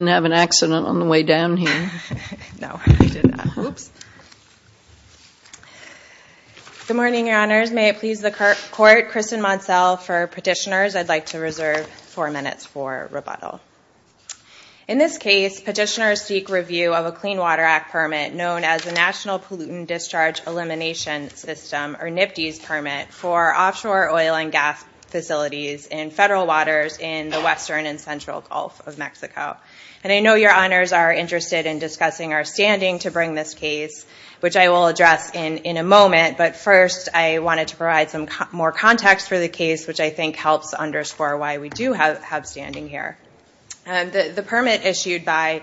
Good morning, your honors. May it please the court, Kristen Moncel for petitioners. I'd like to reserve four minutes for rebuttal. In this case, petitioners seek review of a Clean Water Act permit known as the National Pollutant Discharge Elimination System or NPDES permit for offshore oil and gas facilities in federal waters in the western and central Gulf of Mexico. And I know your honors are interested in discussing our standing to bring this case, which I will address in a moment. But first, I wanted to provide some more context for the case, which I think helps underscore why we do have standing here. The permit issued by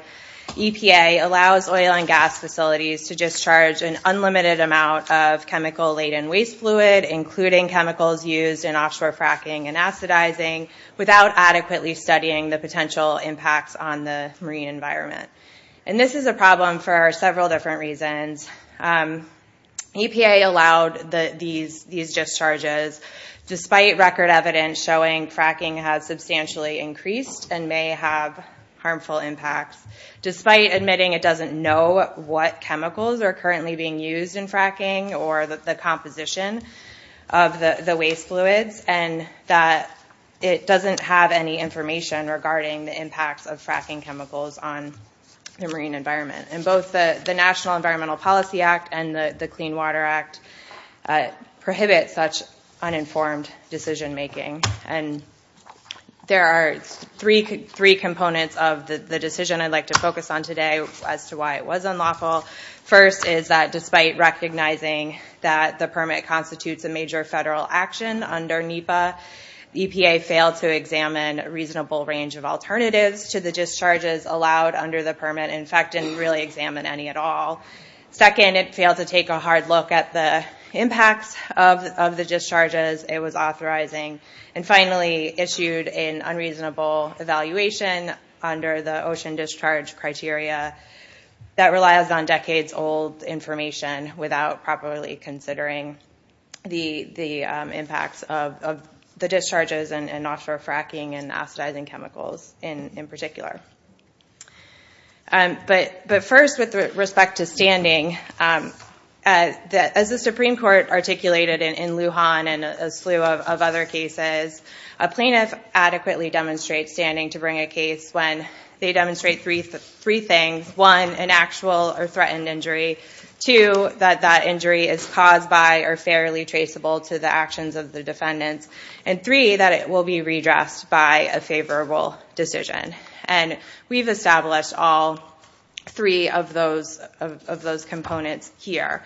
EPA allows oil and gas facilities to discharge an unlimited amount of chemical-laden waste fluid, including chemicals used in offshore fracking and acidizing, without adequately studying the potential impacts on the marine environment. And this is a problem for several different reasons. EPA allowed these discharges despite record evidence showing fracking has substantially increased and may have harmful impacts, despite admitting it doesn't know what chemicals are currently being used in fracking or the composition of the waste fluids and that it doesn't have any information regarding the impacts of fracking chemicals on the marine environment. And both the National Environmental Policy Act and the Clean Water Act prohibit such uninformed decision-making. And there are three components of the decision I'd like to focus on today as to why it was unlawful. First is that despite recognizing that the EPA failed to examine a reasonable range of alternatives to the discharges allowed under the permit, in fact, didn't really examine any at all. Second, it failed to take a hard look at the impacts of the discharges it was authorizing. And finally, issued an unreasonable evaluation under the ocean discharge criteria that relies on decades-old information without properly considering the impacts of the discharges and offshore fracking and acidizing chemicals in particular. But first, with respect to standing, as the Supreme Court articulated in Lujan and a slew of other cases, a plaintiff adequately demonstrates standing to bring a case when they demonstrate three things. One, an actual or threatened injury. Two, that that injury is caused by or fairly traceable to the actions of the defendants. And three, that it will be redressed by a favorable decision. And we've established all three of those components here.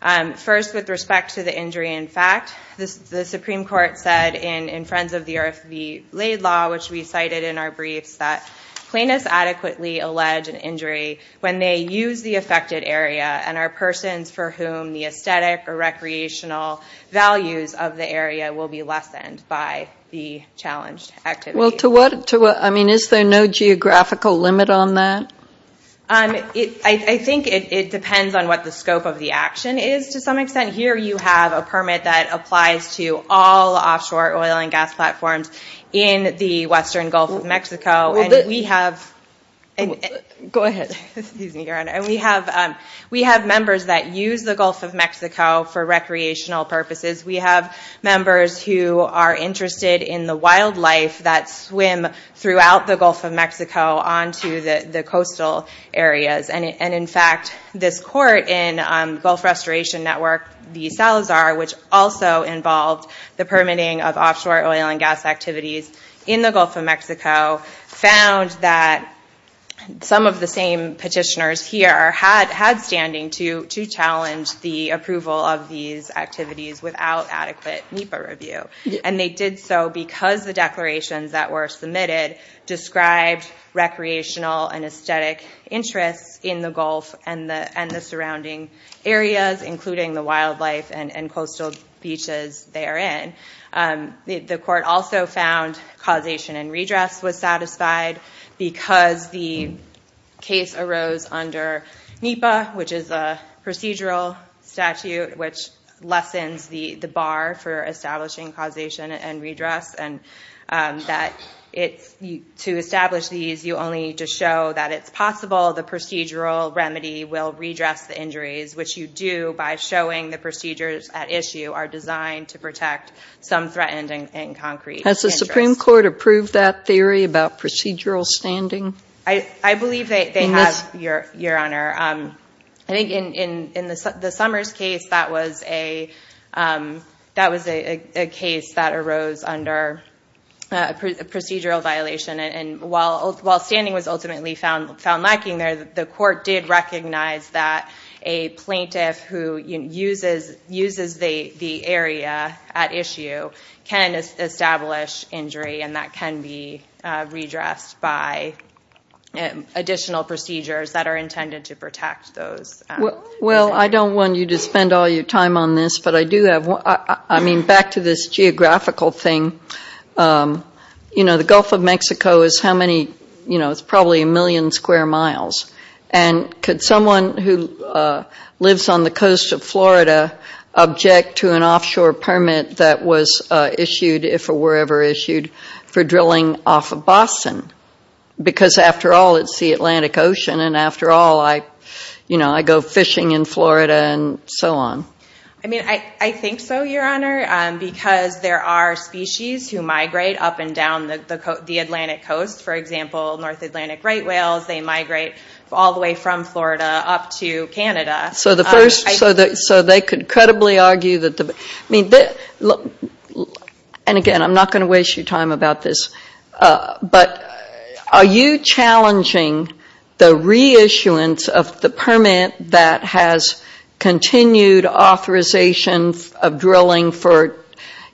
First, with respect to the injury in fact, the Supreme Court said in Friends of the Earth v. Laidlaw, which we cited in our briefs, that plaintiffs adequately allege an injury when they use the affected area and are persons for whom the aesthetic or recreational values of the area will be lessened by the challenged activity. Well to what, I mean is there no geographical limit on that? I think it depends on what the scope of the action is to some extent. Here you have a permit that applies to all offshore oil and gas platforms in the western Gulf of Mexico. We have members that use the Gulf of Mexico for recreational purposes. We have members who are interested in the wildlife that swim throughout the Gulf of Mexico onto the coastal areas. And in fact, this court in Gulf Restoration Network v. Salazar, which also involved the Gulf of Mexico, found that some of the same petitioners here had standing to challenge the approval of these activities without adequate NEPA review. And they did so because the declarations that were submitted described recreational and aesthetic interests in the Gulf and the surrounding areas, including the wildlife and coastal beaches therein. The court also found causation and redress was satisfied because the case arose under NEPA, which is a procedural statute which lessens the bar for establishing causation and redress. And to establish these you only need to show that it's possible the procedural remedy will redress the injuries, which you do by showing the procedures at issue are designed to protect some threatened and concrete interests. Has the Supreme Court approved that theory about procedural standing? I believe they have, Your Honor. I think in the Summers case that was a case that arose under a procedural violation. And while standing was ultimately found lacking there, the court did recognize that a plaintiff who uses the area at issue can establish injury and that can be redressed by additional procedures that are intended to protect those. Well, I don't want you to spend all your time on this, but I do have one. I mean, back to this geographical thing, you know, the Gulf of Mexico is how many, you know, it's probably a million square miles. And could someone who lives on the coast of Florida object to an offshore permit that was issued, if it were ever issued, for drilling off of Boston? Because after all, it's the Atlantic Ocean and after all, I, you know, I go fishing in Florida and so on. I mean, I think so, Your Honor, because there are species who migrate up and down the Atlantic Coast. For example, North Atlantic right whales, they migrate all the way from Florida up to Canada. So the first, so they could credibly argue that the, I mean, and again, I'm not going to waste your time about this. But are you challenging the reissuance of the permit that has continued authorization of drilling for,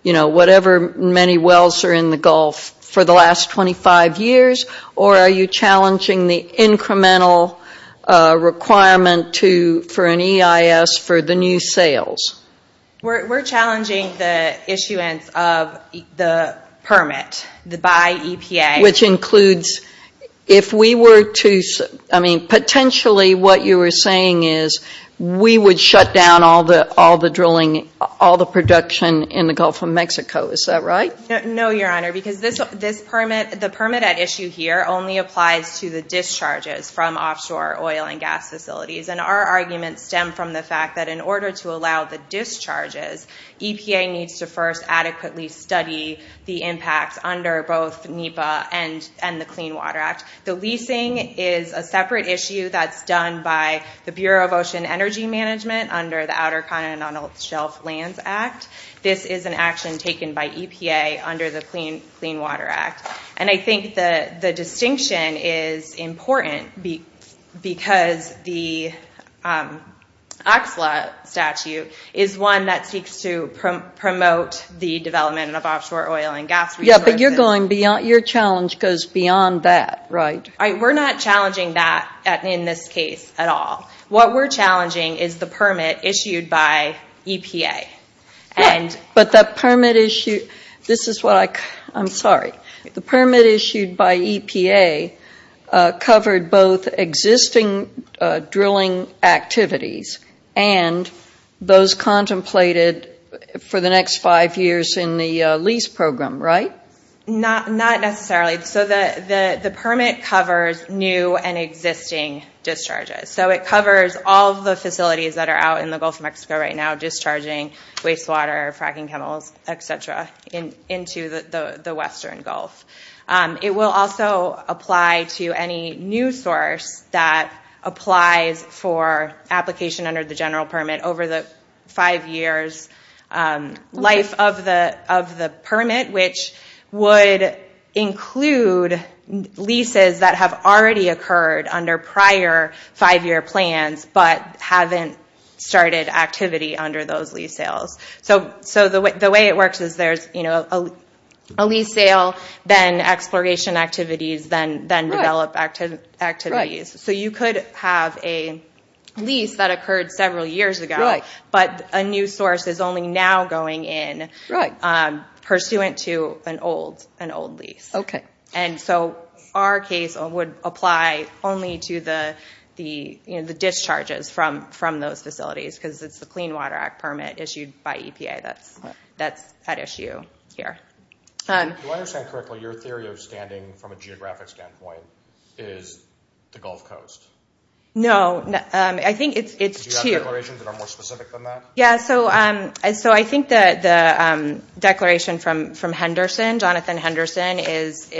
you know, whatever many wells are in the Gulf for the last 25 years? Or are you challenging the incremental requirement to, for an EIS for the new sales? We're challenging the issuance of the permit by EPA. Which includes, if we were to, I mean, potentially what you were saying is we would shut down all the drilling, all the production in the Gulf of Mexico. Is that right? No, Your Honor, because this permit, the permit at issue here only applies to the discharges from offshore oil and gas facilities. And our arguments stem from the fact that in order to allow the discharges, EPA needs to first adequately study the impacts under both NEPA and the Clean Water Act. The leasing is a separate issue that's done by the Bureau of Ocean Energy Management under the Outer Continental Shelf Lands Act. This is an action taken by EPA under the Clean Water Act. And I think the distinction is important because the OCSLA statute is one that seeks to promote the development of offshore oil and gas resources. Yeah, but you're going beyond, your challenge goes beyond that, right? We're not challenging that in this case at all. What we're challenging is the permit But the permit issue, this is what I, I'm sorry. The permit issued by EPA covered both existing drilling activities and those contemplated for the next five years in the lease program, right? Not necessarily. So the permit covers new and existing discharges. So it covers all the facilities that are out in the Gulf of Mexico right now discharging wastewater, fracking chemicals, et cetera, into the Western Gulf. It will also apply to any new source that applies for application under the general permit over the five years life of the permit, which would include leases that have already been sales. So the way it works is there's a lease sale, then exploration activities, then develop activities. So you could have a lease that occurred several years ago, but a new source is only now going in pursuant to an old lease. And so our case would apply only to the discharges from those facilities because it's the Clean Water Act permit issued by EPA that's at issue here. Do I understand correctly your theory of standing from a geographic standpoint is the Gulf Coast? No, I think it's two. Do you have declarations that are more specific than that? Yeah, so I think the declaration from Henderson, Jonathan Henderson, is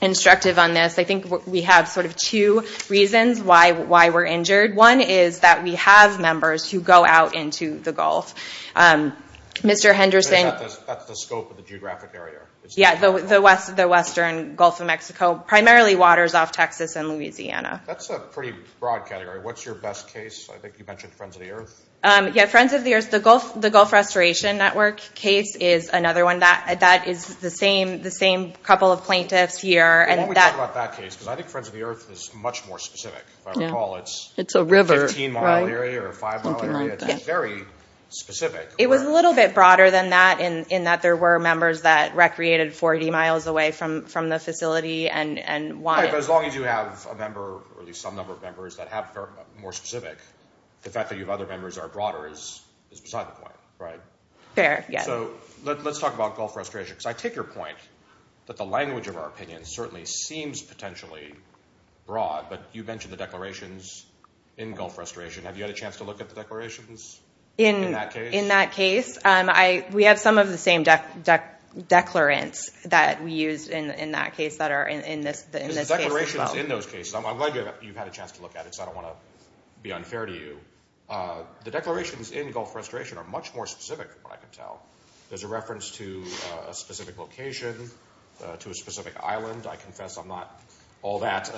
instructive on this. I think we have sort of two reasons why we're injured. One is that we have members who go out into the Gulf. Mr. Henderson... So that's the scope of the geographic area? Yeah, the Western Gulf of Mexico, primarily waters off Texas and Louisiana. That's a pretty broad category. What's your best case? I think you mentioned Friends of the Earth. Yeah, Friends of the Earth. The Gulf Restoration Network case is another one. That is the same couple of plaintiffs here. Well, why don't we talk about that case because I think Friends of the Earth is much more If I recall, it's a 15-mile area or a 5-mile area. It's very specific. It was a little bit broader than that in that there were members that recreated 40 miles away from the facility and wanted... Right, but as long as you have a member or at least some number of members that are more specific, the fact that you have other members that are broader is beside the point, right? Fair, yeah. So let's talk about Gulf restoration because I take your point that the language of our opinion certainly seems potentially broad, but you mentioned the declarations in Gulf restoration. Have you had a chance to look at the declarations in that case? In that case, we have some of the same declarants that we used in that case that are in this case as well. Because the declarations in those cases, I'm glad you've had a chance to look at it because I don't want to be unfair to you. The declarations in Gulf restoration are much more specific from what I can tell. There's a reference to a specific location, to a specific island. I confess I'm not all that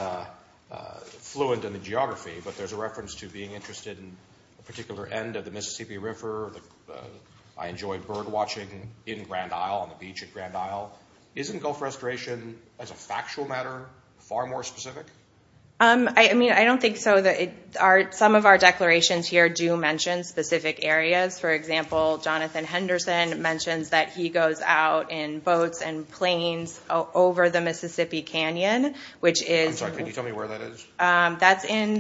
fluent in the geography, but there's a reference to being interested in a particular end of the Mississippi River. I enjoy bird watching in Grand Isle, on the beach at Grand Isle. Isn't Gulf restoration as a factual matter far more specific? I mean, I don't think so. Some of our declarations here do mention specific areas. For example, Jonathan Henderson mentions that he goes out in boats and planes over the Mississippi Canyon, which is in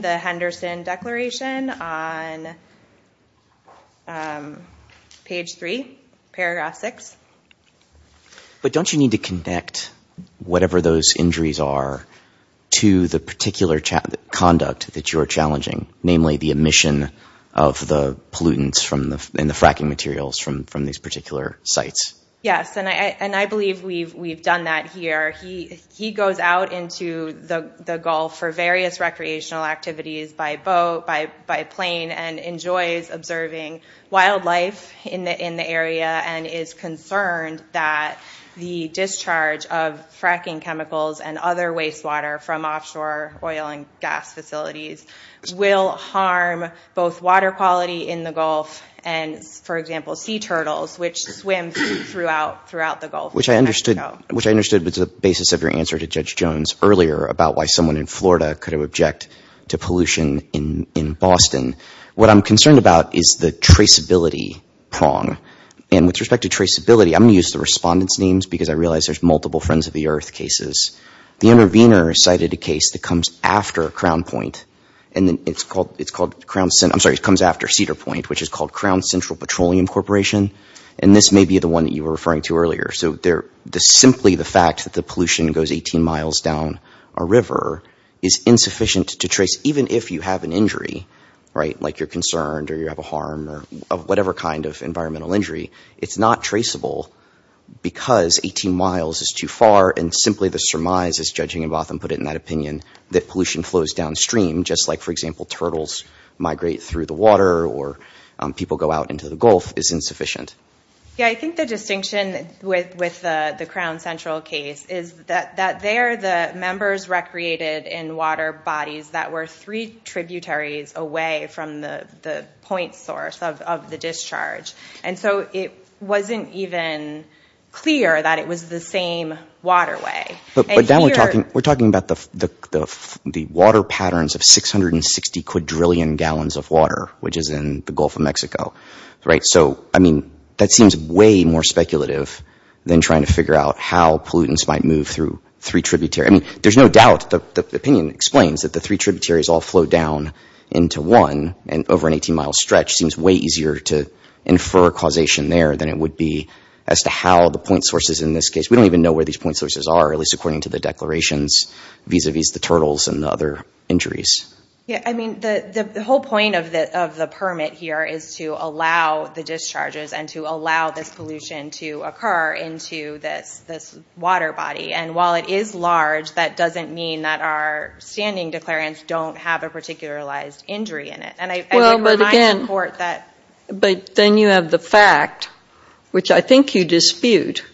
the Henderson declaration on page three, paragraph six. But don't you need to connect whatever those injuries are to the particular conduct that you're challenging? Namely, the emission of the pollutants and the fracking materials from these particular sites? Yes, and I believe we've done that here. He goes out into the Gulf for various recreational activities by boat, by plane, and enjoys observing wildlife in the area and is concerned that the discharge of fracking chemicals and other waste water from offshore oil and gas facilities will harm both water quality in the Gulf and, for example, sea turtles, which swim throughout the Gulf. Which I understood was the basis of your answer to Judge Jones earlier about why someone in Florida could object to pollution in Boston. What I'm concerned about is the traceability prong. And with respect to traceability, I'm going to use the respondents' names because I realize there's multiple Friends of the Earth cases. The Intervenor cited a case that comes after Crown Point, and then it's called, I'm sorry, it comes after Cedar Point, which is called Crown Central Petroleum Corporation. And this may be the one that you were referring to earlier. So simply the fact that the pollution goes 18 miles down a river is insufficient to trace. Even if you have an injury, right, like you're concerned or you have a harm or whatever kind of environmental injury, it's not traceable because 18 miles is too far. And simply the surmise, as Judge Ingebotham put it in that opinion, that pollution flows downstream just like, for example, turtles migrate through the water or people go out into the Gulf is insufficient. Yeah, I think the distinction with the Crown Central case is that there the members recreated in water bodies that were three tributaries away from the point source of the discharge. And so it wasn't even clear that it was the same waterway. But now we're talking about the water patterns of 660 quadrillion gallons of water, which is in the Gulf of Mexico, right? So I mean, that seems way more speculative than trying to figure out how pollutants might move through three tributaries. I mean, there's no doubt, the opinion explains that the three tributaries all flow down into one and over an 18-mile stretch seems way easier to infer causation there than it would be as to how the point sources in this case. We don't even know where these point sources are, at least according to the declarations vis-a-vis the turtles and the other injuries. Yeah, I mean, the whole point of the permit here is to allow the discharges and to allow this pollution to occur into this water body. And while it is large, that doesn't mean that our standing declarants don't have a particularized injury in it. And I support that. Well, but again, but then you have the fact, which I think you dispute.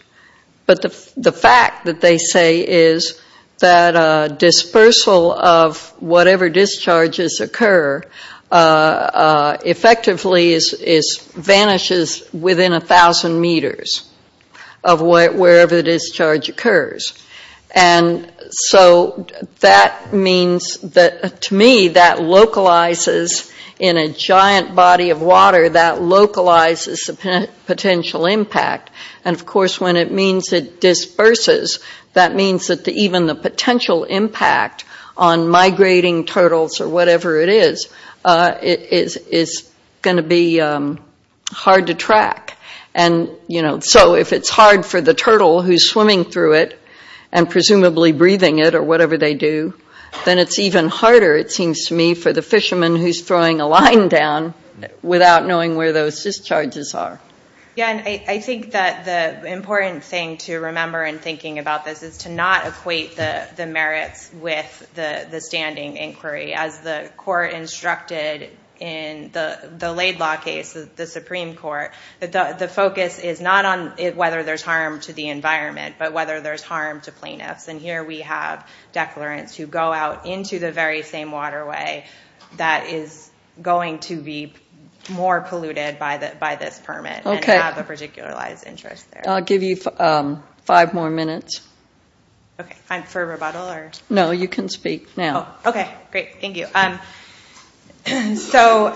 But the fact that they say is that dispersal of whatever discharges occur effectively vanishes within 1,000 meters of wherever the discharge occurs. And so that means that, to me, that localizes in a giant body of water, that localizes the potential impact. And of course, when it means it disperses, that means that even the potential impact on migrating turtles or whatever it is, is going to be hard to track. And so if it's hard for the turtle who's swimming through it and presumably breathing it or whatever they do, then it's even harder, it seems to me, for the fisherman who's throwing a line down without knowing where those discharges are. Yeah, and I think that the important thing to remember in thinking about this is to not equate the merits with the standing inquiry. As the court instructed in the Laidlaw case, the Supreme Court, the focus is not on whether there's harm to the environment, but whether there's harm to plaintiffs. And here we have declarants who go out into the very same waterway that is going to be more polluted by this permit and have a particularized interest there. I'll give you five more minutes. Okay, for rebuttal or? No, you can speak now. Okay, great, thank you. So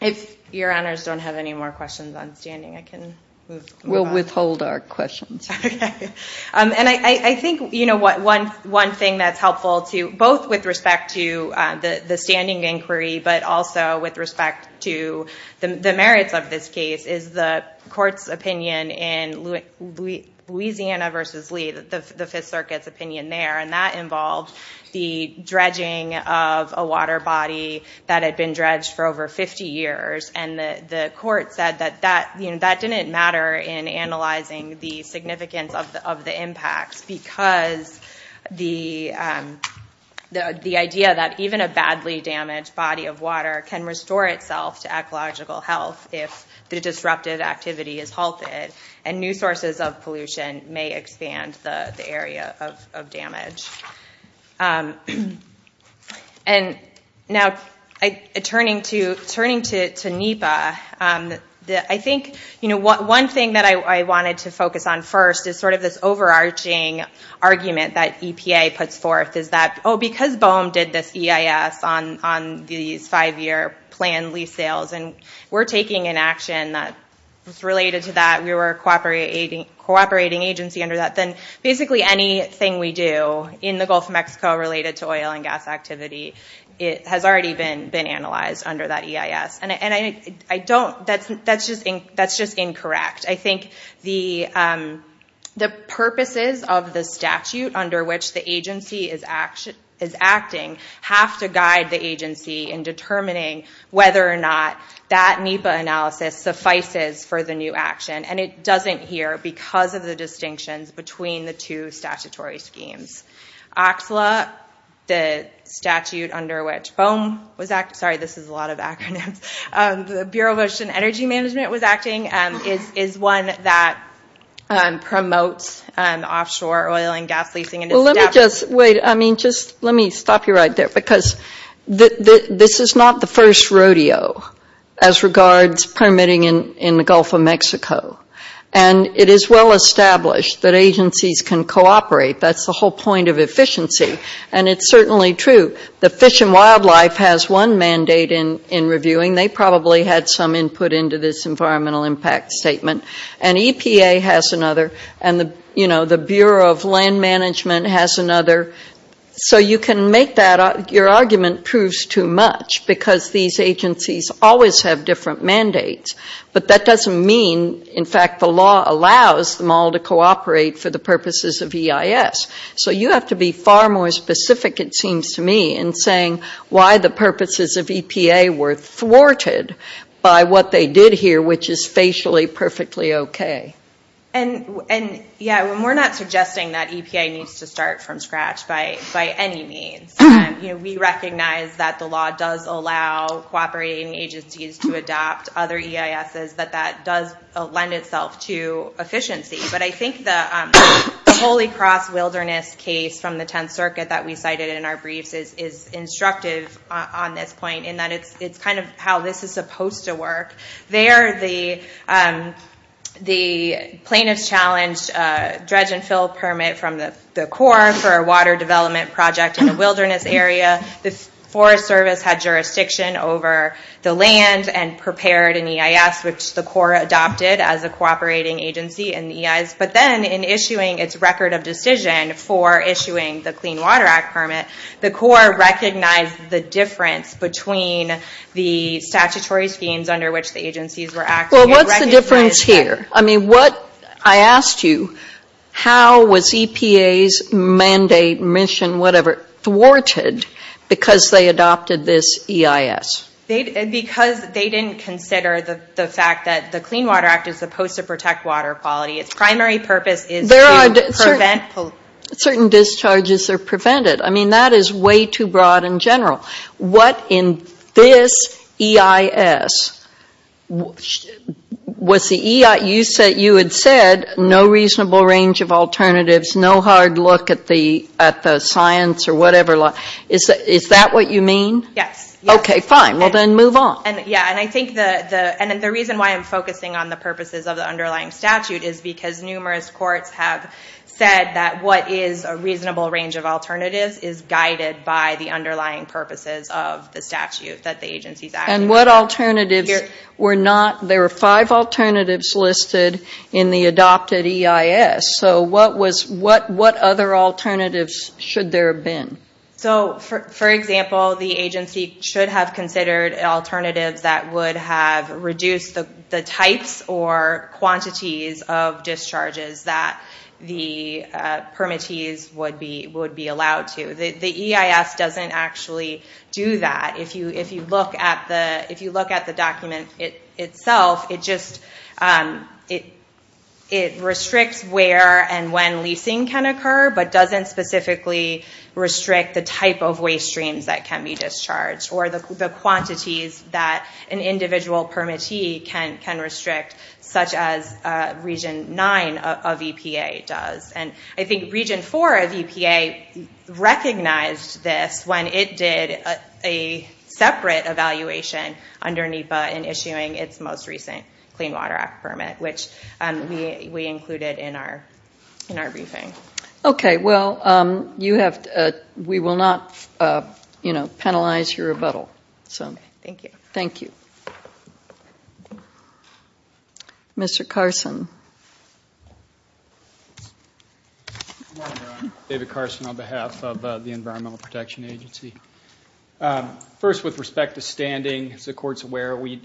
if your honors don't have any more questions on standing, I can move on. We'll withhold our questions. And I think one thing that's helpful, both with respect to the standing inquiry, but also with respect to the merits of this case, is the court's opinion in Louisiana v. Lee, the Fifth Circuit's opinion there, and that involved the dredging of a water body that had been dredged for over 50 years. And the court said that that didn't matter in analyzing the significance of the impacts because the idea that even a badly damaged body of water can restore itself to ecological health if the disruptive activity is halted and new sources of pollution may expand the area of damage. And now turning to NEPA, I think one thing that I wanted to focus on first is sort of this overarching argument that EPA puts forth is that, oh, because BOEM did this EIS on these five-year planned lease sales and we're taking an action that's related to that, we were a cooperating agency under that, then basically anything we do in the Gulf of Mexico related to oil and gas activity has already been analyzed under that EIS. And I don't, that's just incorrect. I think the purposes of the statute under which the agency is acting have to guide the agency in determining whether or not that NEPA analysis suffices for the new action. And it doesn't here because of the distinctions between the two statutory schemes. OXLA, the statute under which BOEM was, sorry, this is a lot of acronyms, the Bureau of Ocean Energy Management was acting, is one that promotes offshore oil and gas leasing. Well, let me just, wait, I mean, just let me stop you right there because this is not the first rodeo as regards permitting in the Gulf of Mexico. And it is well established that agencies can cooperate. That's the whole point of efficiency. And it's certainly true. The Fish and Wildlife has one mandate in reviewing. They probably had some input into this environmental impact statement. And EPA has another. And, you know, the Bureau of Land Management has another. So you can make that, your argument proves too much because these agencies always have different mandates. But that doesn't mean, in fact, the law allows them all to cooperate for the purposes of EIS. So you have to be far more specific, it seems to me, in saying why the purposes of EPA were thwarted by what they did here, which is facially perfectly okay. And, yeah, we're not suggesting that EPA needs to start from scratch by any means. You know, we recognize that the law does allow cooperating agencies to adopt other EISs, that that does lend itself to efficiency. But I think the Holy Cross Wilderness case from the 10th Circuit that we cited in our how this is supposed to work, there the plaintiffs challenged a dredge and fill permit from the Corps for a water development project in a wilderness area. The Forest Service had jurisdiction over the land and prepared an EIS, which the Corps adopted as a cooperating agency in the EIS. But then in issuing its record of decision for issuing the Clean Water Act permit, the statutory schemes under which the agencies were acting are recognized as having Well, what's the difference here? I mean, what I asked you, how was EPA's mandate, mission, whatever, thwarted because they adopted this EIS? Because they didn't consider the fact that the Clean Water Act is supposed to protect water quality. Its primary purpose is to prevent certain discharges are prevented. I mean, that is way too broad and general. What in this EIS, was the EIS, you had said no reasonable range of alternatives, no hard look at the science or whatever. Is that what you mean? Yes. Okay, fine, well then move on. Yeah, and I think the reason why I'm focusing on the purposes of the underlying statute is because numerous courts have said that what is a reasonable range of alternatives is guided by the underlying purposes of the statute that the agencies are acting under. And what alternatives were not, there were five alternatives listed in the adopted EIS, so what was, what other alternatives should there have been? So, for example, the agency should have considered alternatives that would have reduced the types or quantities of discharges that the permittees would be allowed to. The EIS doesn't actually do that. If you look at the document itself, it just, it restricts where and when leasing can occur, but doesn't specifically restrict the type of waste streams that can be discharged or the quantities that an individual permittee can restrict, such as Region 9 of EPA does. And I think Region 4 of EPA recognized this when it did a separate evaluation under NEPA in issuing its most recent Clean Water Act permit, which we included in our briefing. Okay, well, you have, we will not, you know, penalize your rebuttal, so thank you. Mr. Carson. David Carson on behalf of the Environmental Protection Agency. First with respect to standing, as the Court is aware, we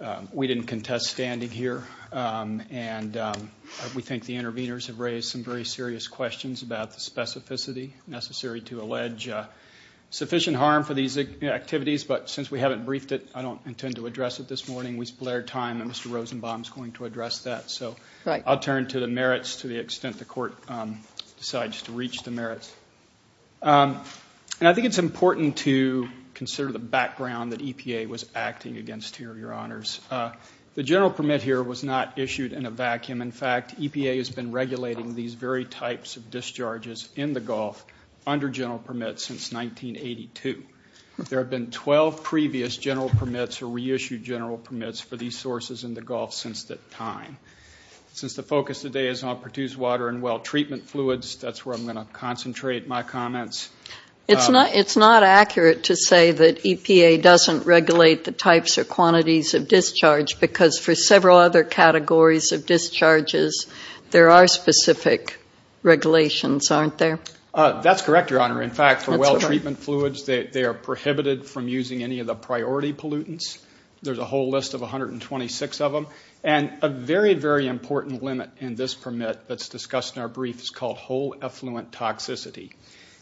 didn't contest standing here, and we think the interveners have raised some very serious questions about the specificity necessary to allege sufficient harm for these activities. But since we haven't briefed it, I don't intend to address it this morning. We split our time, and Mr. Rosenbaum is going to address that. So I'll turn to the merits to the extent the Court decides to reach the merits. And I think it's important to consider the background that EPA was acting against here, Your Honors. The general permit here was not issued in a vacuum. In fact, EPA has been regulating these very types of discharges in the Gulf under general permits since 1982. There have been 12 previous general permits or reissued general permits for these sources in the Gulf since that time. Since the focus today is on produced water and well treatment fluids, that's where I'm going to concentrate my comments. It's not accurate to say that EPA doesn't regulate the types or quantities of discharge, because for several other categories of discharges, there are specific regulations, aren't there? That's correct, Your Honor. In fact, for well treatment fluids, they are prohibited from using any of the priority pollutants. There's a whole list of 126 of them. And a very, very important limit in this permit that's discussed in our brief is called whole effluent toxicity.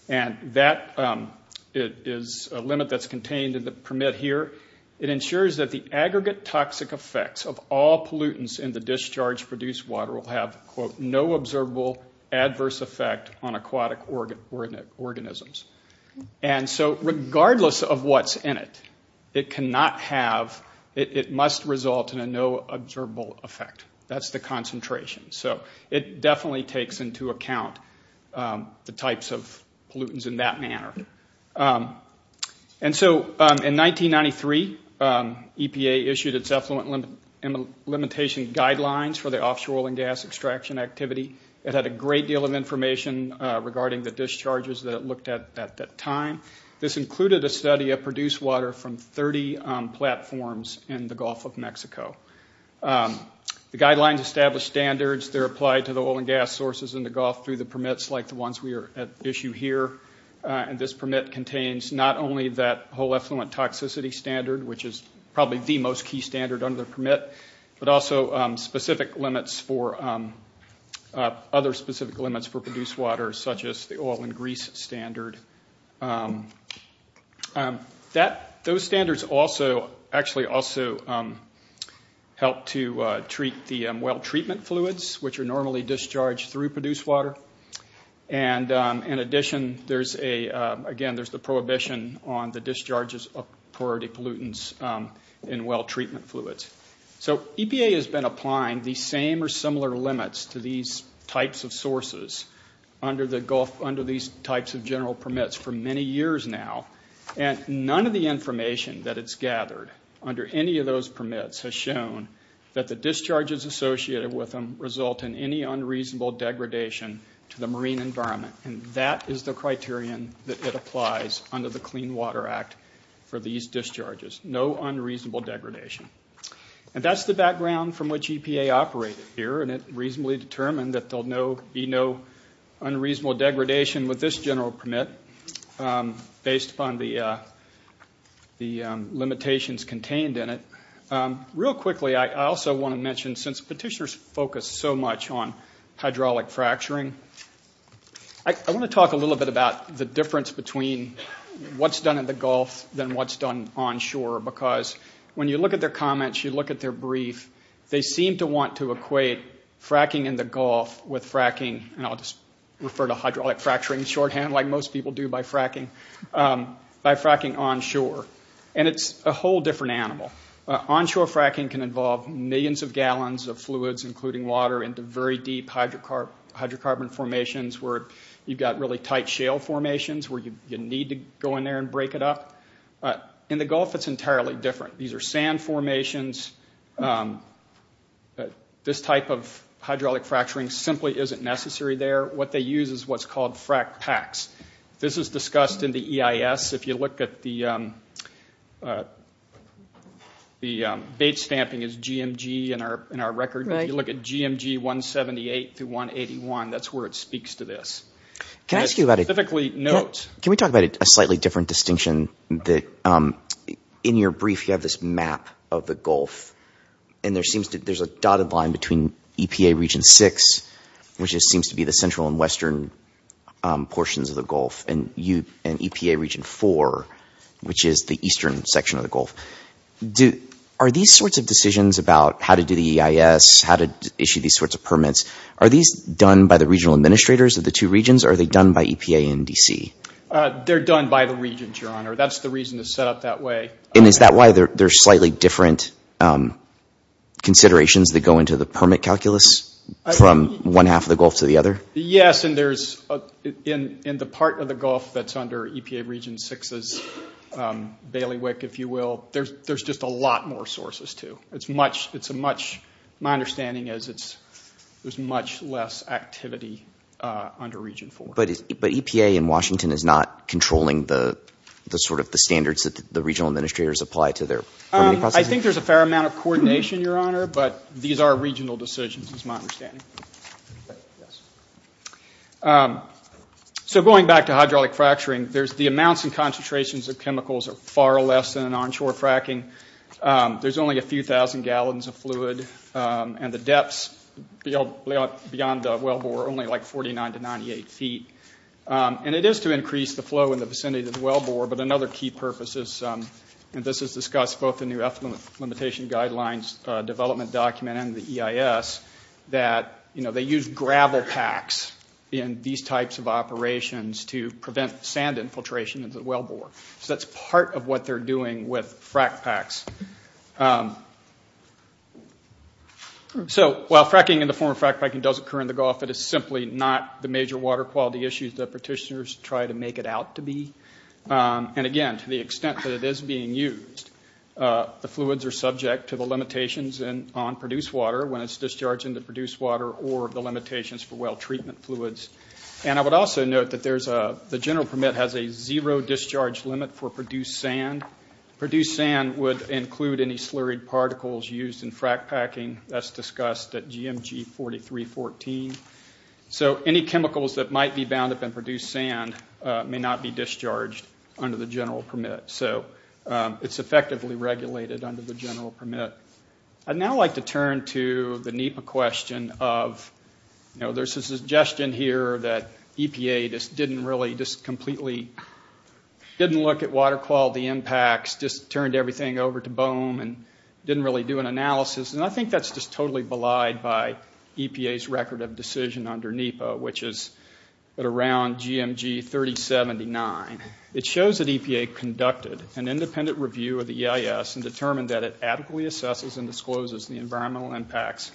And that is a limit that's contained in the permit here. It ensures that the aggregate toxic effects of all pollutants in the discharge produced water will have, quote, no observable adverse effect on aquatic organisms. And so regardless of what's in it, it cannot have, it must result in a no observable effect. That's the concentration. So it definitely takes into account the types of pollutants in that manner. And so in 1993, EPA issued its effluent limitation guidelines for the offshore oil and gas extraction activity. It had a great deal of information regarding the discharges that it looked at at that time. This included a study of produced water from 30 platforms in the Gulf of Mexico. The guidelines established standards. They're applied to the oil and gas sources in the Gulf through the permits like the ones we are at issue here. And this permit contains not only that whole effluent toxicity standard, which is probably the most key standard under the permit, but also specific limits for, other specific limits for produced water such as the oil and grease standard. Those standards also, actually also help to treat the well treatment fluids, which are normally discharged through produced water. And in addition, there's a, again, there's the prohibition on the discharges of priority pollutants in well treatment fluids. So EPA has been applying these same or similar limits to these types of sources under these types of general permits for many years now. And none of the information that it's gathered under any of those permits has shown that the discharges associated with them result in any unreasonable degradation to the marine environment. And that is the criterion that it applies under the Clean Water Act for these discharges. No unreasonable degradation. And that's the background from which EPA operated here, and it reasonably determined that there'll be no unreasonable degradation with this general permit, based upon the limitations contained in it. Real quickly, I also want to mention, since petitioners focus so much on hydraulic fracturing, I want to talk a little bit about the difference between what's done in the Gulf than what's done onshore. Because when you look at their comments, you look at their brief, they seem to want to equate fracking in the Gulf with fracking, and I'll just refer to hydraulic fracturing shorthand like most people do by fracking, by fracking onshore. And it's a whole different animal. Onshore fracking can involve millions of gallons of fluids, including water, into very deep hydrocarbon formations where you've got really tight shale formations, where you need to go in there and break it up. In the Gulf, it's entirely different. These are sand formations. This type of hydraulic fracturing simply isn't necessary there. What they use is what's called fracked packs. This is discussed in the EIS. If you look at the bait stamping, it's GMG in our record. If you look at GMG 178 through 181, that's where it speaks to this. Specifically notes. Can we talk about a slightly different distinction? In your brief, you have this map of the Gulf, and there's a dotted line between EPA Region 6, which seems to be the central and western portions of the Gulf, and EPA Region 4, which is the eastern section of the Gulf. Are these sorts of decisions about how to do the EIS, how to issue these sorts of permits, are these done by the regional administrators of the two regions, or are they done by EPA and D.C.? They're done by the regions, Your Honor. That's the reason it's set up that way. Is that why there's slightly different considerations that go into the permit calculus from one half of the Gulf to the other? Yes. In the part of the Gulf that's under EPA Region 6's bailiwick, if you will, there's just a lot more sources, too. My understanding is there's much less activity under Region 4. But EPA in Washington is not controlling the standards that the regional administrators apply to their permitting processes? I think there's a fair amount of coordination, Your Honor, but these are regional decisions is my understanding. So going back to hydraulic fracturing, the amounts and concentrations of chemicals are far less than onshore fracking. There's only a few thousand gallons of fluid, and the depths beyond the wellbore are only like 49 to 98 feet. And it is to increase the flow in the vicinity of the wellbore, but another key purpose is, and this is discussed both in the Ethnolimitation Guidelines Development Document and the EIS, that they use gravel packs in these types of operations to prevent sand infiltration into the wellbore. So that's part of what they're doing with frack packs. So while fracking in the form of frack packing does occur in the Gulf, it is simply not the major water quality issues that petitioners try to make it out to be. And again, to the extent that it is being used, the fluids are subject to the limitations on produced water when it's discharged into produced water or the limitations for well treatment fluids. And I would also note that the General Permit has a zero discharge limit for produced sand. Produced sand would include any slurried particles used in frack packing. That's discussed at GMG 4314. So any chemicals that might be bound up in produced sand may not be discharged under the General Permit. So it's effectively regulated under the General Permit. I'd now like to turn to the NEPA question of, you know, there's a suggestion here that EPA just didn't really, just completely, didn't look at water quality impacts, just turned everything over to BOEM, and didn't really do an analysis. And I think that's just totally belied by EPA's record of decision under NEPA, which is at around GMG 3079. It shows that EPA conducted an independent review of the EIS and determined that it adequately assesses and discloses the environmental impacts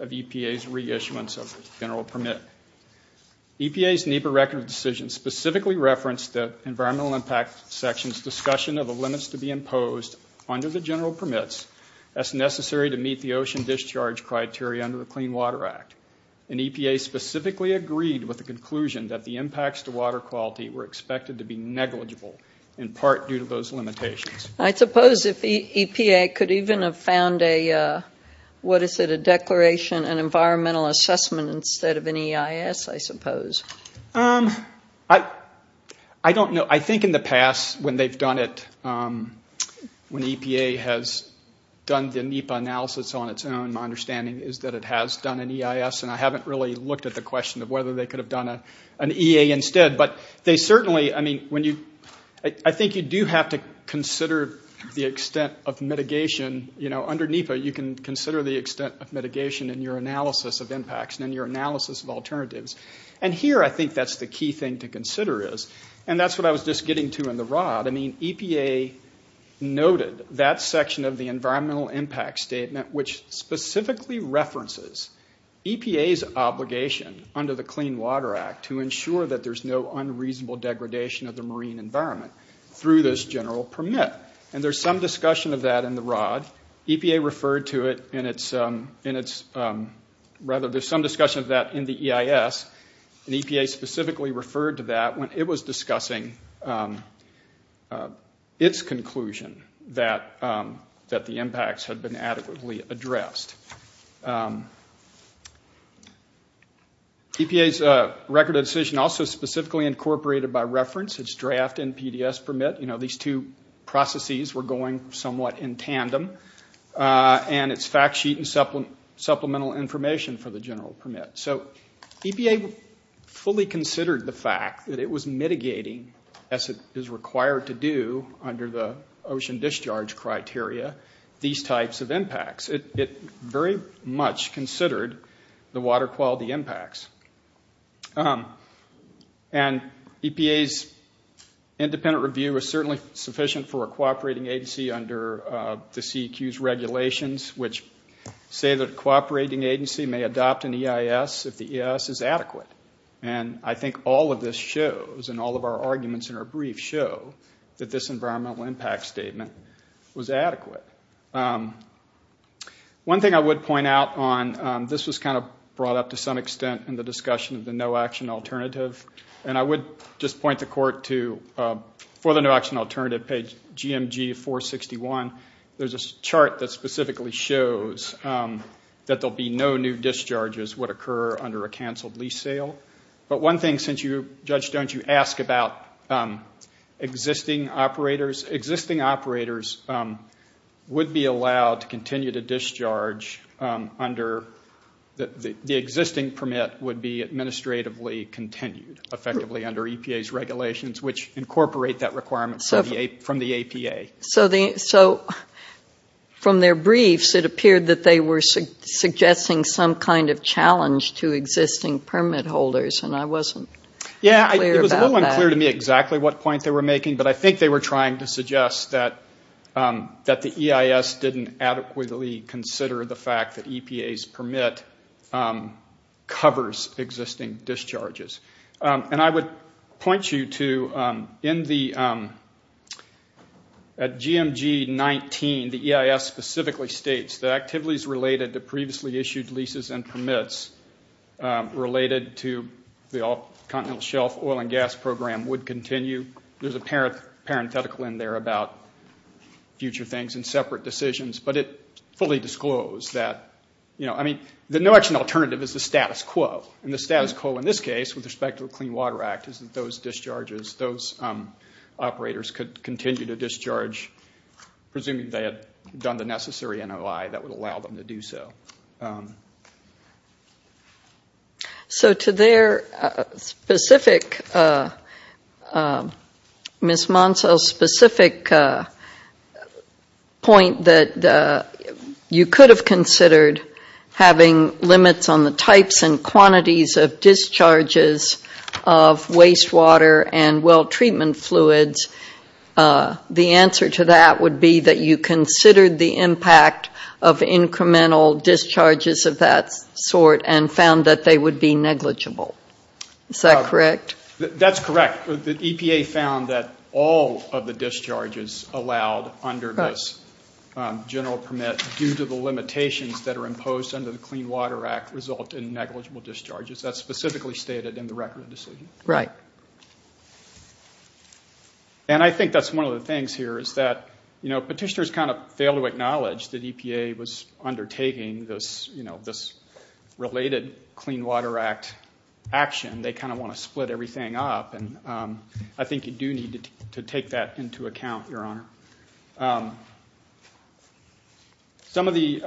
of EPA's reissuance of the General Permit. EPA's NEPA record of decision specifically referenced the environmental impact section's discussion of the limits to be imposed under the General Permits as necessary to meet the ocean discharge criteria under the Clean Water Act. And EPA specifically agreed with the conclusion that the impacts to water quality were expected to be negligible, in part due to those limitations. I suppose if EPA could even have found a, what is it, a declaration and environmental assessment instead of an EIS, I suppose. I don't know. I think in the past when they've done it, when EPA has done the NEPA analysis on its own, my understanding is that it has done an EIS, and I haven't really looked at the question of whether they could have done an EA instead. But they certainly, I mean, when you, I think you do have to consider the extent of mitigation. You know, under NEPA you can consider the extent of mitigation in your analysis of impacts and in your analysis of alternatives. And here I think that's the key thing to consider is, and that's what I was just getting to in the rod, I mean, EPA noted that section of the environmental impact statement which specifically references EPA's obligation under the Clean Water Act to ensure that there's no unreasonable degradation of the marine environment through this general permit. And there's some discussion of that in the rod. EPA referred to it in its, rather there's some discussion of that in the EIS, and EPA specifically referred to that when it was discussing its conclusion that the impacts had been adequately addressed. EPA's record of decision also specifically incorporated by reference its draft NPDES permit. You know, these two processes were going somewhat in tandem. And its fact sheet and supplemental information for the general permit. So EPA fully considered the fact that it was mitigating, as it is required to do under the ocean discharge criteria, these types of impacts. It very much considered the water quality impacts. And EPA's independent review is certainly sufficient for a cooperating agency under the CEQ's regulations, which say that a cooperating agency may adopt an EIS if the EIS is adequate. And I think all of this shows, and all of our arguments in our brief show, that this environmental impact statement was adequate. One thing I would point out on, this was kind of brought up to some extent in the discussion of the no-action alternative, and I would just point the court to, for the no-action alternative, page GMG 461, there's a chart that specifically shows that there will be no new discharges would occur under a canceled lease sale. But one thing, since you, Judge Jones, you ask about existing operators, existing operators would be allowed to continue to discharge under, the existing permit would be administratively continued, effectively, under EPA's regulations, which incorporate that requirement from the APA. So from their briefs, it appeared that they were suggesting some kind of challenge to existing permit holders, and I wasn't clear about that. Yeah, it was a little unclear to me exactly what point they were making, but I think they were trying to suggest that the EIS didn't adequately consider the fact that EPA's permit covers existing discharges. And I would point you to, in the, at GMG 19, the EIS specifically states that activities related to previously issued leases and permits related to the all-continental shelf oil and gas program would continue. There's a parenthetical in there about future things and separate decisions, but it fully disclosed that, you know, I mean, the no-action alternative is the status quo, and the status quo in this case, with respect to the Clean Water Act, is that those discharges, those operators could continue to discharge, presuming they had done the necessary NOI that would allow them to do so. So to their specific, Ms. Monceau's specific point, that you could have considered having limits on the types and quantities of discharges of wastewater and well treatment fluids, the answer to that would be that you considered the impact of incremental discharges of that sort and found that they would be negligible. Is that correct? That's correct. The EPA found that all of the discharges allowed under this general permit, due to the limitations that are imposed under the Clean Water Act, result in negligible discharges. That's specifically stated in the record of decision. Right. And I think that's one of the things here, is that, you know, petitioners kind of fail to acknowledge that EPA was undertaking this, you know, this related Clean Water Act action. They kind of want to split everything up, and I think you do need to take that into account, Your Honor. Some of the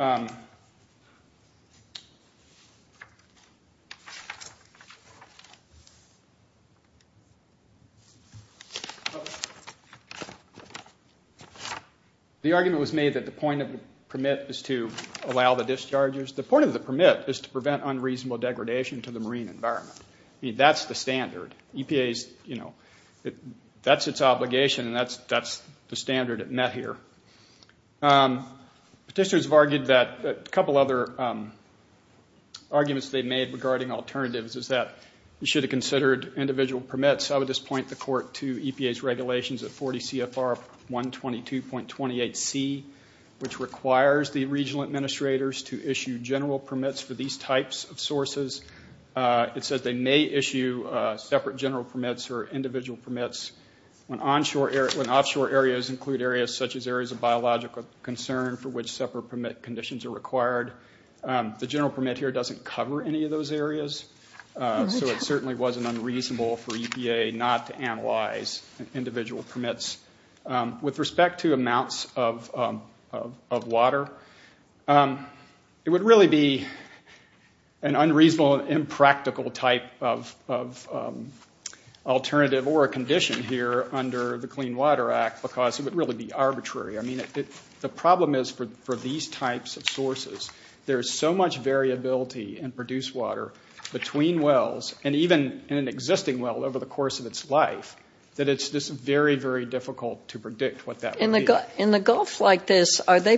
argument was made that the point of the permit is to allow the discharges. The point of the permit is to prevent unreasonable degradation to the marine environment. I mean, that's the standard. EPA's, you know, that's its obligation, and that's the standard it met here. Petitioners have argued that a couple other arguments they've made regarding alternatives is that you should have considered individual permits. I would just point the Court to EPA's regulations at 40 CFR 122.28C, which requires the regional administrators to issue general permits for these types of sources. It says they may issue separate general permits or individual permits when offshore areas include areas such as areas of biological concern for which separate permit conditions are required. The general permit here doesn't cover any of those areas, so it certainly wasn't unreasonable for EPA not to analyze individual permits. With respect to amounts of water, it would really be an unreasonable, impractical type of alternative or a condition here under the Clean Water Act because it would really be arbitrary. I mean, the problem is for these types of sources, there's so much variability in produced water between wells, and even in an existing well over the course of its life, that it's just very, very difficult to predict what that would be. In the Gulf like this, are they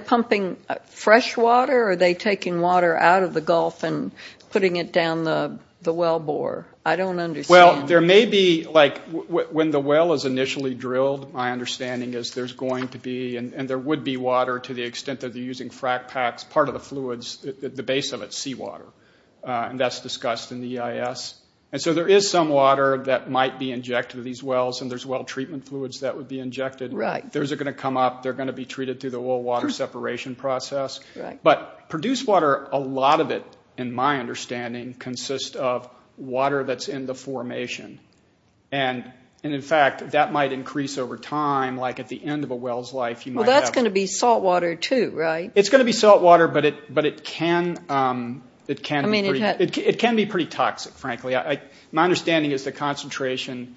pumping fresh water, or are they taking water out of the Gulf and putting it down the well bore? I don't understand. Well, there may be, like, when the well is initially drilled, my understanding is there's going to be, and there would be, water to the extent that they're using frac packs, part of the fluids, the base of it's seawater, and that's discussed in the EIS. And so there is some water that might be injected to these wells, and there's well treatment fluids that would be injected. Right. Those are going to come up. They're going to be treated through the well water separation process. Right. But produced water, a lot of it, in my understanding, consists of water that's in the formation. And, in fact, that might increase over time. Like, at the end of a well's life, you might have- Well, that's going to be saltwater, too, right? It's going to be saltwater, but it can be pretty toxic, frankly. My understanding is the concentration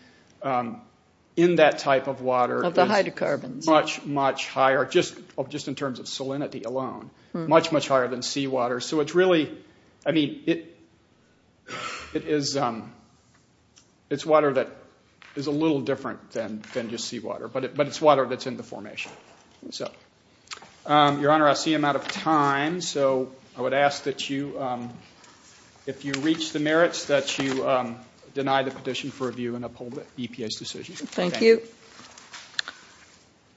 in that type of water- Of the hydrocarbons. Is much, much higher, just in terms of salinity alone, much, much higher than seawater. So it's really, I mean, it is water that is a little different than just seawater, but it's water that's in the formation. So, Your Honor, I see I'm out of time, so I would ask that you, if you reach the merits, that you deny the petition for review and uphold the EPA's decision. Thank you.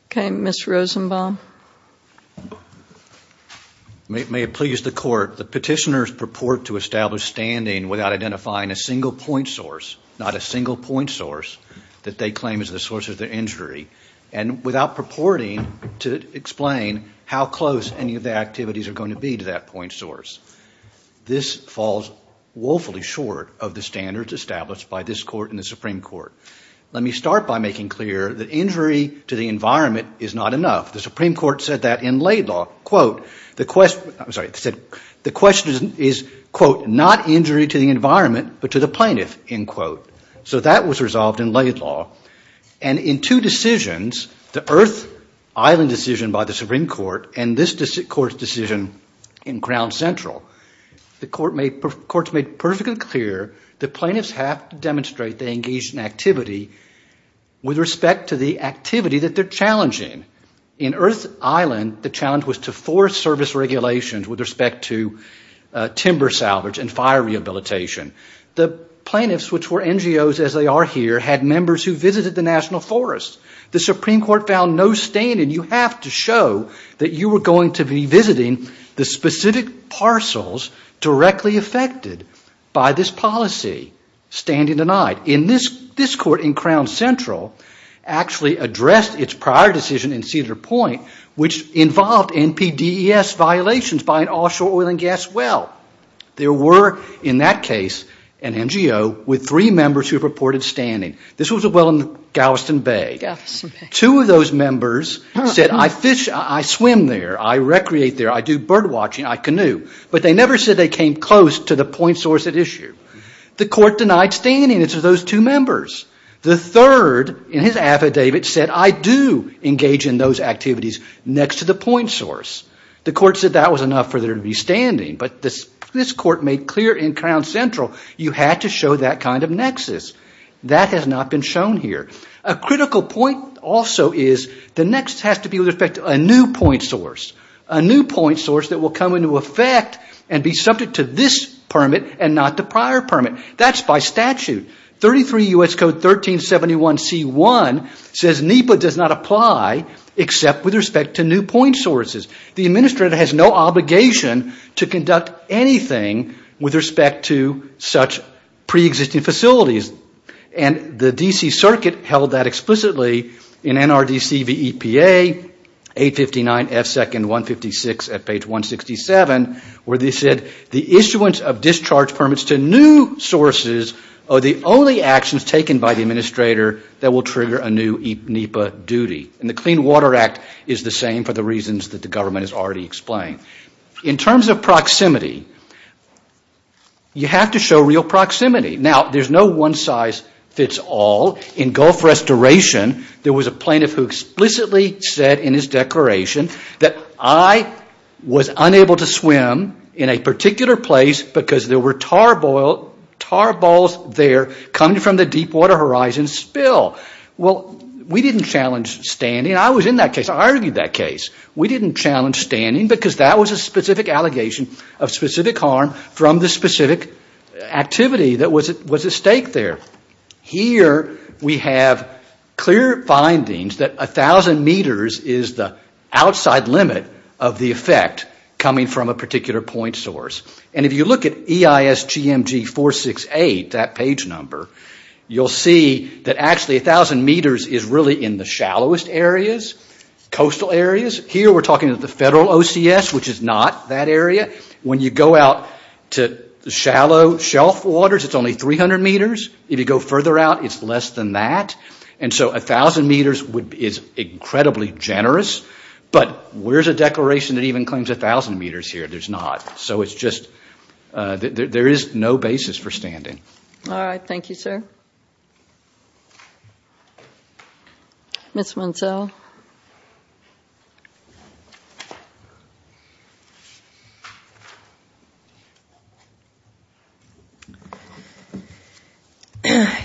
Okay, Ms. Rosenbaum. May it please the Court, the petitioners purport to establish standing without identifying a single point source, not a single point source, that they claim is the source of the injury, and without purporting to explain how close any of the activities are going to be to that point source. This falls woefully short of the standards established by this Court and the Supreme Court. Let me start by making clear that injury to the environment is not enough. The Supreme Court said that in Laidlaw, quote, the question is, quote, not injury to the environment, but to the plaintiff, end quote. So that was resolved in Laidlaw. And in two decisions, the Earth Island decision by the Supreme Court and this Court's decision in Crown Central, the Court's made perfectly clear that plaintiffs have to demonstrate they engage in activity with respect to the activity that they're challenging. In Earth Island, the challenge was to force service regulations with respect to timber salvage and fire rehabilitation. The plaintiffs, which were NGOs as they are here, had members who visited the National Forest. The Supreme Court found no standing. You have to show that you were going to be visiting the specific parcels directly affected by this policy. Standing denied. This Court in Crown Central actually addressed its prior decision in Cedar Point, which involved NPDES violations by an offshore oil and gas well. There were, in that case, an NGO with three members who purported standing. This was a well in Galveston Bay. Two of those members said, I fish, I swim there, I recreate there, I do bird watching, I canoe. But they never said they came close to the point source at issue. The Court denied standing. It's those two members. The third, in his affidavit, said, I do engage in those activities next to the point source. The Court said that was enough for there to be standing. But this Court made clear in Crown Central you had to show that kind of nexus. That has not been shown here. A critical point also is the nexus has to be with respect to a new point source, a new point source that will come into effect and be subject to this permit and not the prior permit. That's by statute. 33 U.S. Code 1371C1 says NEPA does not apply except with respect to new point sources. The administrator has no obligation to conduct anything with respect to such preexisting facilities. And the D.C. Circuit held that explicitly in NRDC v. EPA, 859F2-156 at page 167, where they said the issuance of discharge permits to new sources are the only actions taken by the administrator that will trigger a new NEPA duty. And the Clean Water Act is the same for the reasons that the government has already explained. In terms of proximity, you have to show real proximity. Now, there's no one size fits all. In Gulf Restoration, there was a plaintiff who explicitly said in his declaration that I was unable to swim in a particular place because there were tar balls there coming from the deep water horizon spill. Well, we didn't challenge standing. I was in that case. I argued that case. We didn't challenge standing because that was a specific allegation of specific harm from the specific activity that was at stake there. Here we have clear findings that 1,000 meters is the outside limit of the effect coming from a particular point source. And if you look at EISGMG468, that page number, you'll see that actually 1,000 meters is really in the shallowest areas, coastal areas. Here we're talking about the federal OCS, which is not that area. When you go out to shallow shelf waters, it's only 300 meters. If you go further out, it's less than that. And so 1,000 meters is incredibly generous. But where's a declaration that even claims 1,000 meters here? There's not. So it's just there is no basis for standing. All right. Thank you, sir. Ms. Munsell.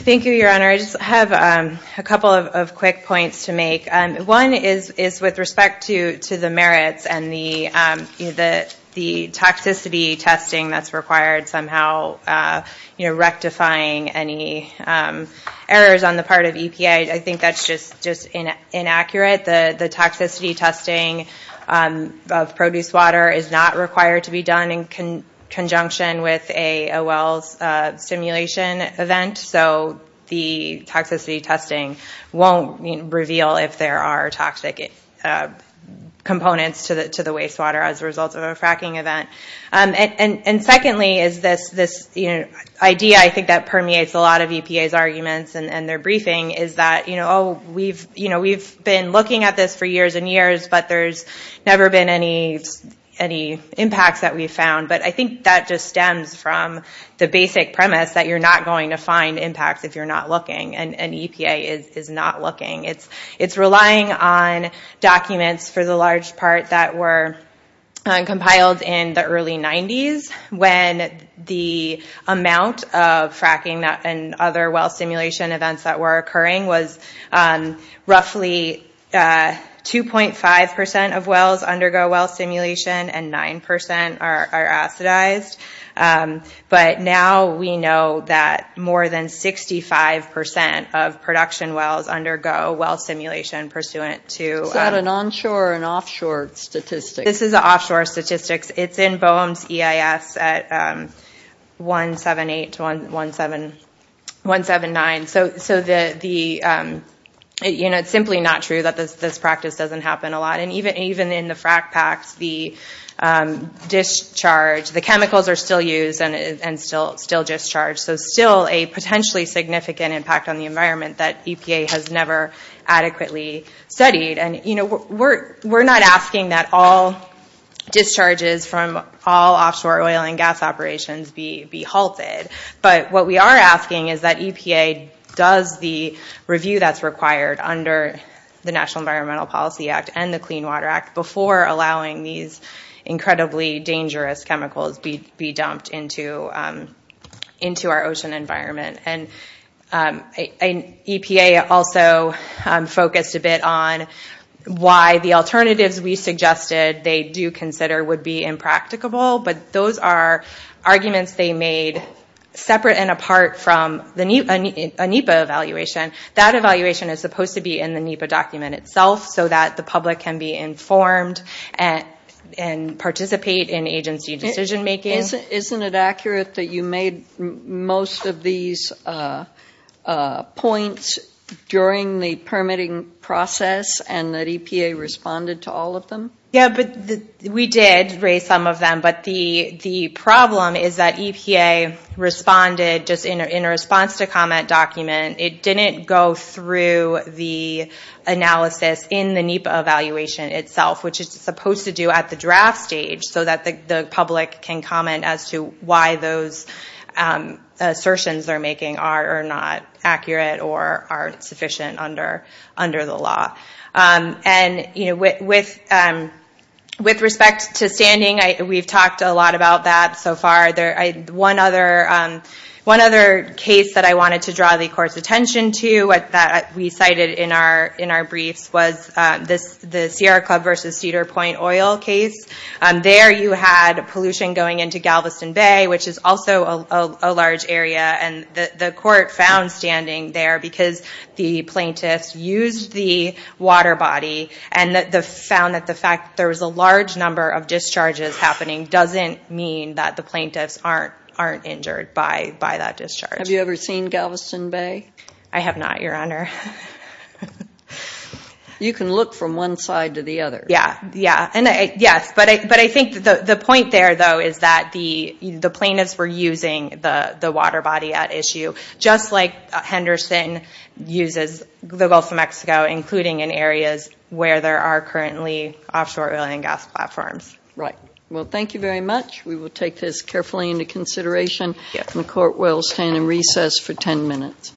Thank you, Your Honor. I just have a couple of quick points to make. One is with respect to the merits and the toxicity testing that's required somehow rectifying any errors on the part of EPA. I think that's just inaccurate. The toxicity testing of produce water is not required to be done in conjunction with a wells simulation event. So the toxicity testing won't reveal if there are toxic components to the wastewater as a result of a fracking event. And secondly is this idea I think that permeates a lot of EPA's arguments and their briefing is that we've been looking at this for years and years, but there's never been any impacts that we've found. But I think that just stems from the basic premise that you're not going to find impacts if you're not looking and EPA is not looking. It's relying on documents for the large part that were compiled in the early 90s when the amount of fracking and other well simulation events that were occurring was roughly 2.5% of wells undergo well simulation and 9% are acidized. But now we know that more than 65% of production wells undergo well simulation pursuant to... Is that an onshore and offshore statistic? This is offshore statistics. It's in BOEM's EIS at 178 to 179. So it's simply not true that this practice doesn't happen a lot. And even in the frack packs, the chemicals are still used and still discharged. So still a potentially significant impact on the environment that EPA has never adequately studied. And we're not asking that all discharges from all offshore oil and gas operations be halted. But what we are asking is that EPA does the review that's required under the National Environmental Policy Act and the Clean Water Act before allowing these incredibly dangerous chemicals be dumped into our ocean environment. And EPA also focused a bit on why the alternatives we suggested they do consider would be impracticable. But those are arguments they made separate and apart from a NEPA evaluation. That evaluation is supposed to be in the NEPA document itself so that the public can be informed and participate in agency decision making. Isn't it accurate that you made most of these points during the permitting process and that EPA responded to all of them? Yeah, but we did raise some of them. But the problem is that EPA responded just in response to comment document. It didn't go through the analysis in the NEPA evaluation itself, which it's supposed to do at the draft stage so that the public can comment as to why those assertions they're making are not accurate or aren't sufficient under the law. With respect to standing, we've talked a lot about that so far. One other case that I wanted to draw the court's attention to that we cited in our briefs was the Sierra Club v. Cedar Point oil case. There you had pollution going into Galveston Bay, which is also a large area. The court found standing there because the plaintiffs used the water body and found that the fact that there was a large number of discharges happening doesn't mean that the plaintiffs aren't injured by that discharge. Have you ever seen Galveston Bay? I have not, Your Honor. You can look from one side to the other. Yes, but I think the point there, though, is that the plaintiffs were using the water body at issue, just like Henderson uses the Gulf of Mexico, including in areas where there are currently offshore oil and gas platforms. Right. Well, thank you very much. We will take this carefully into consideration. The court will stand in recess for 10 minutes.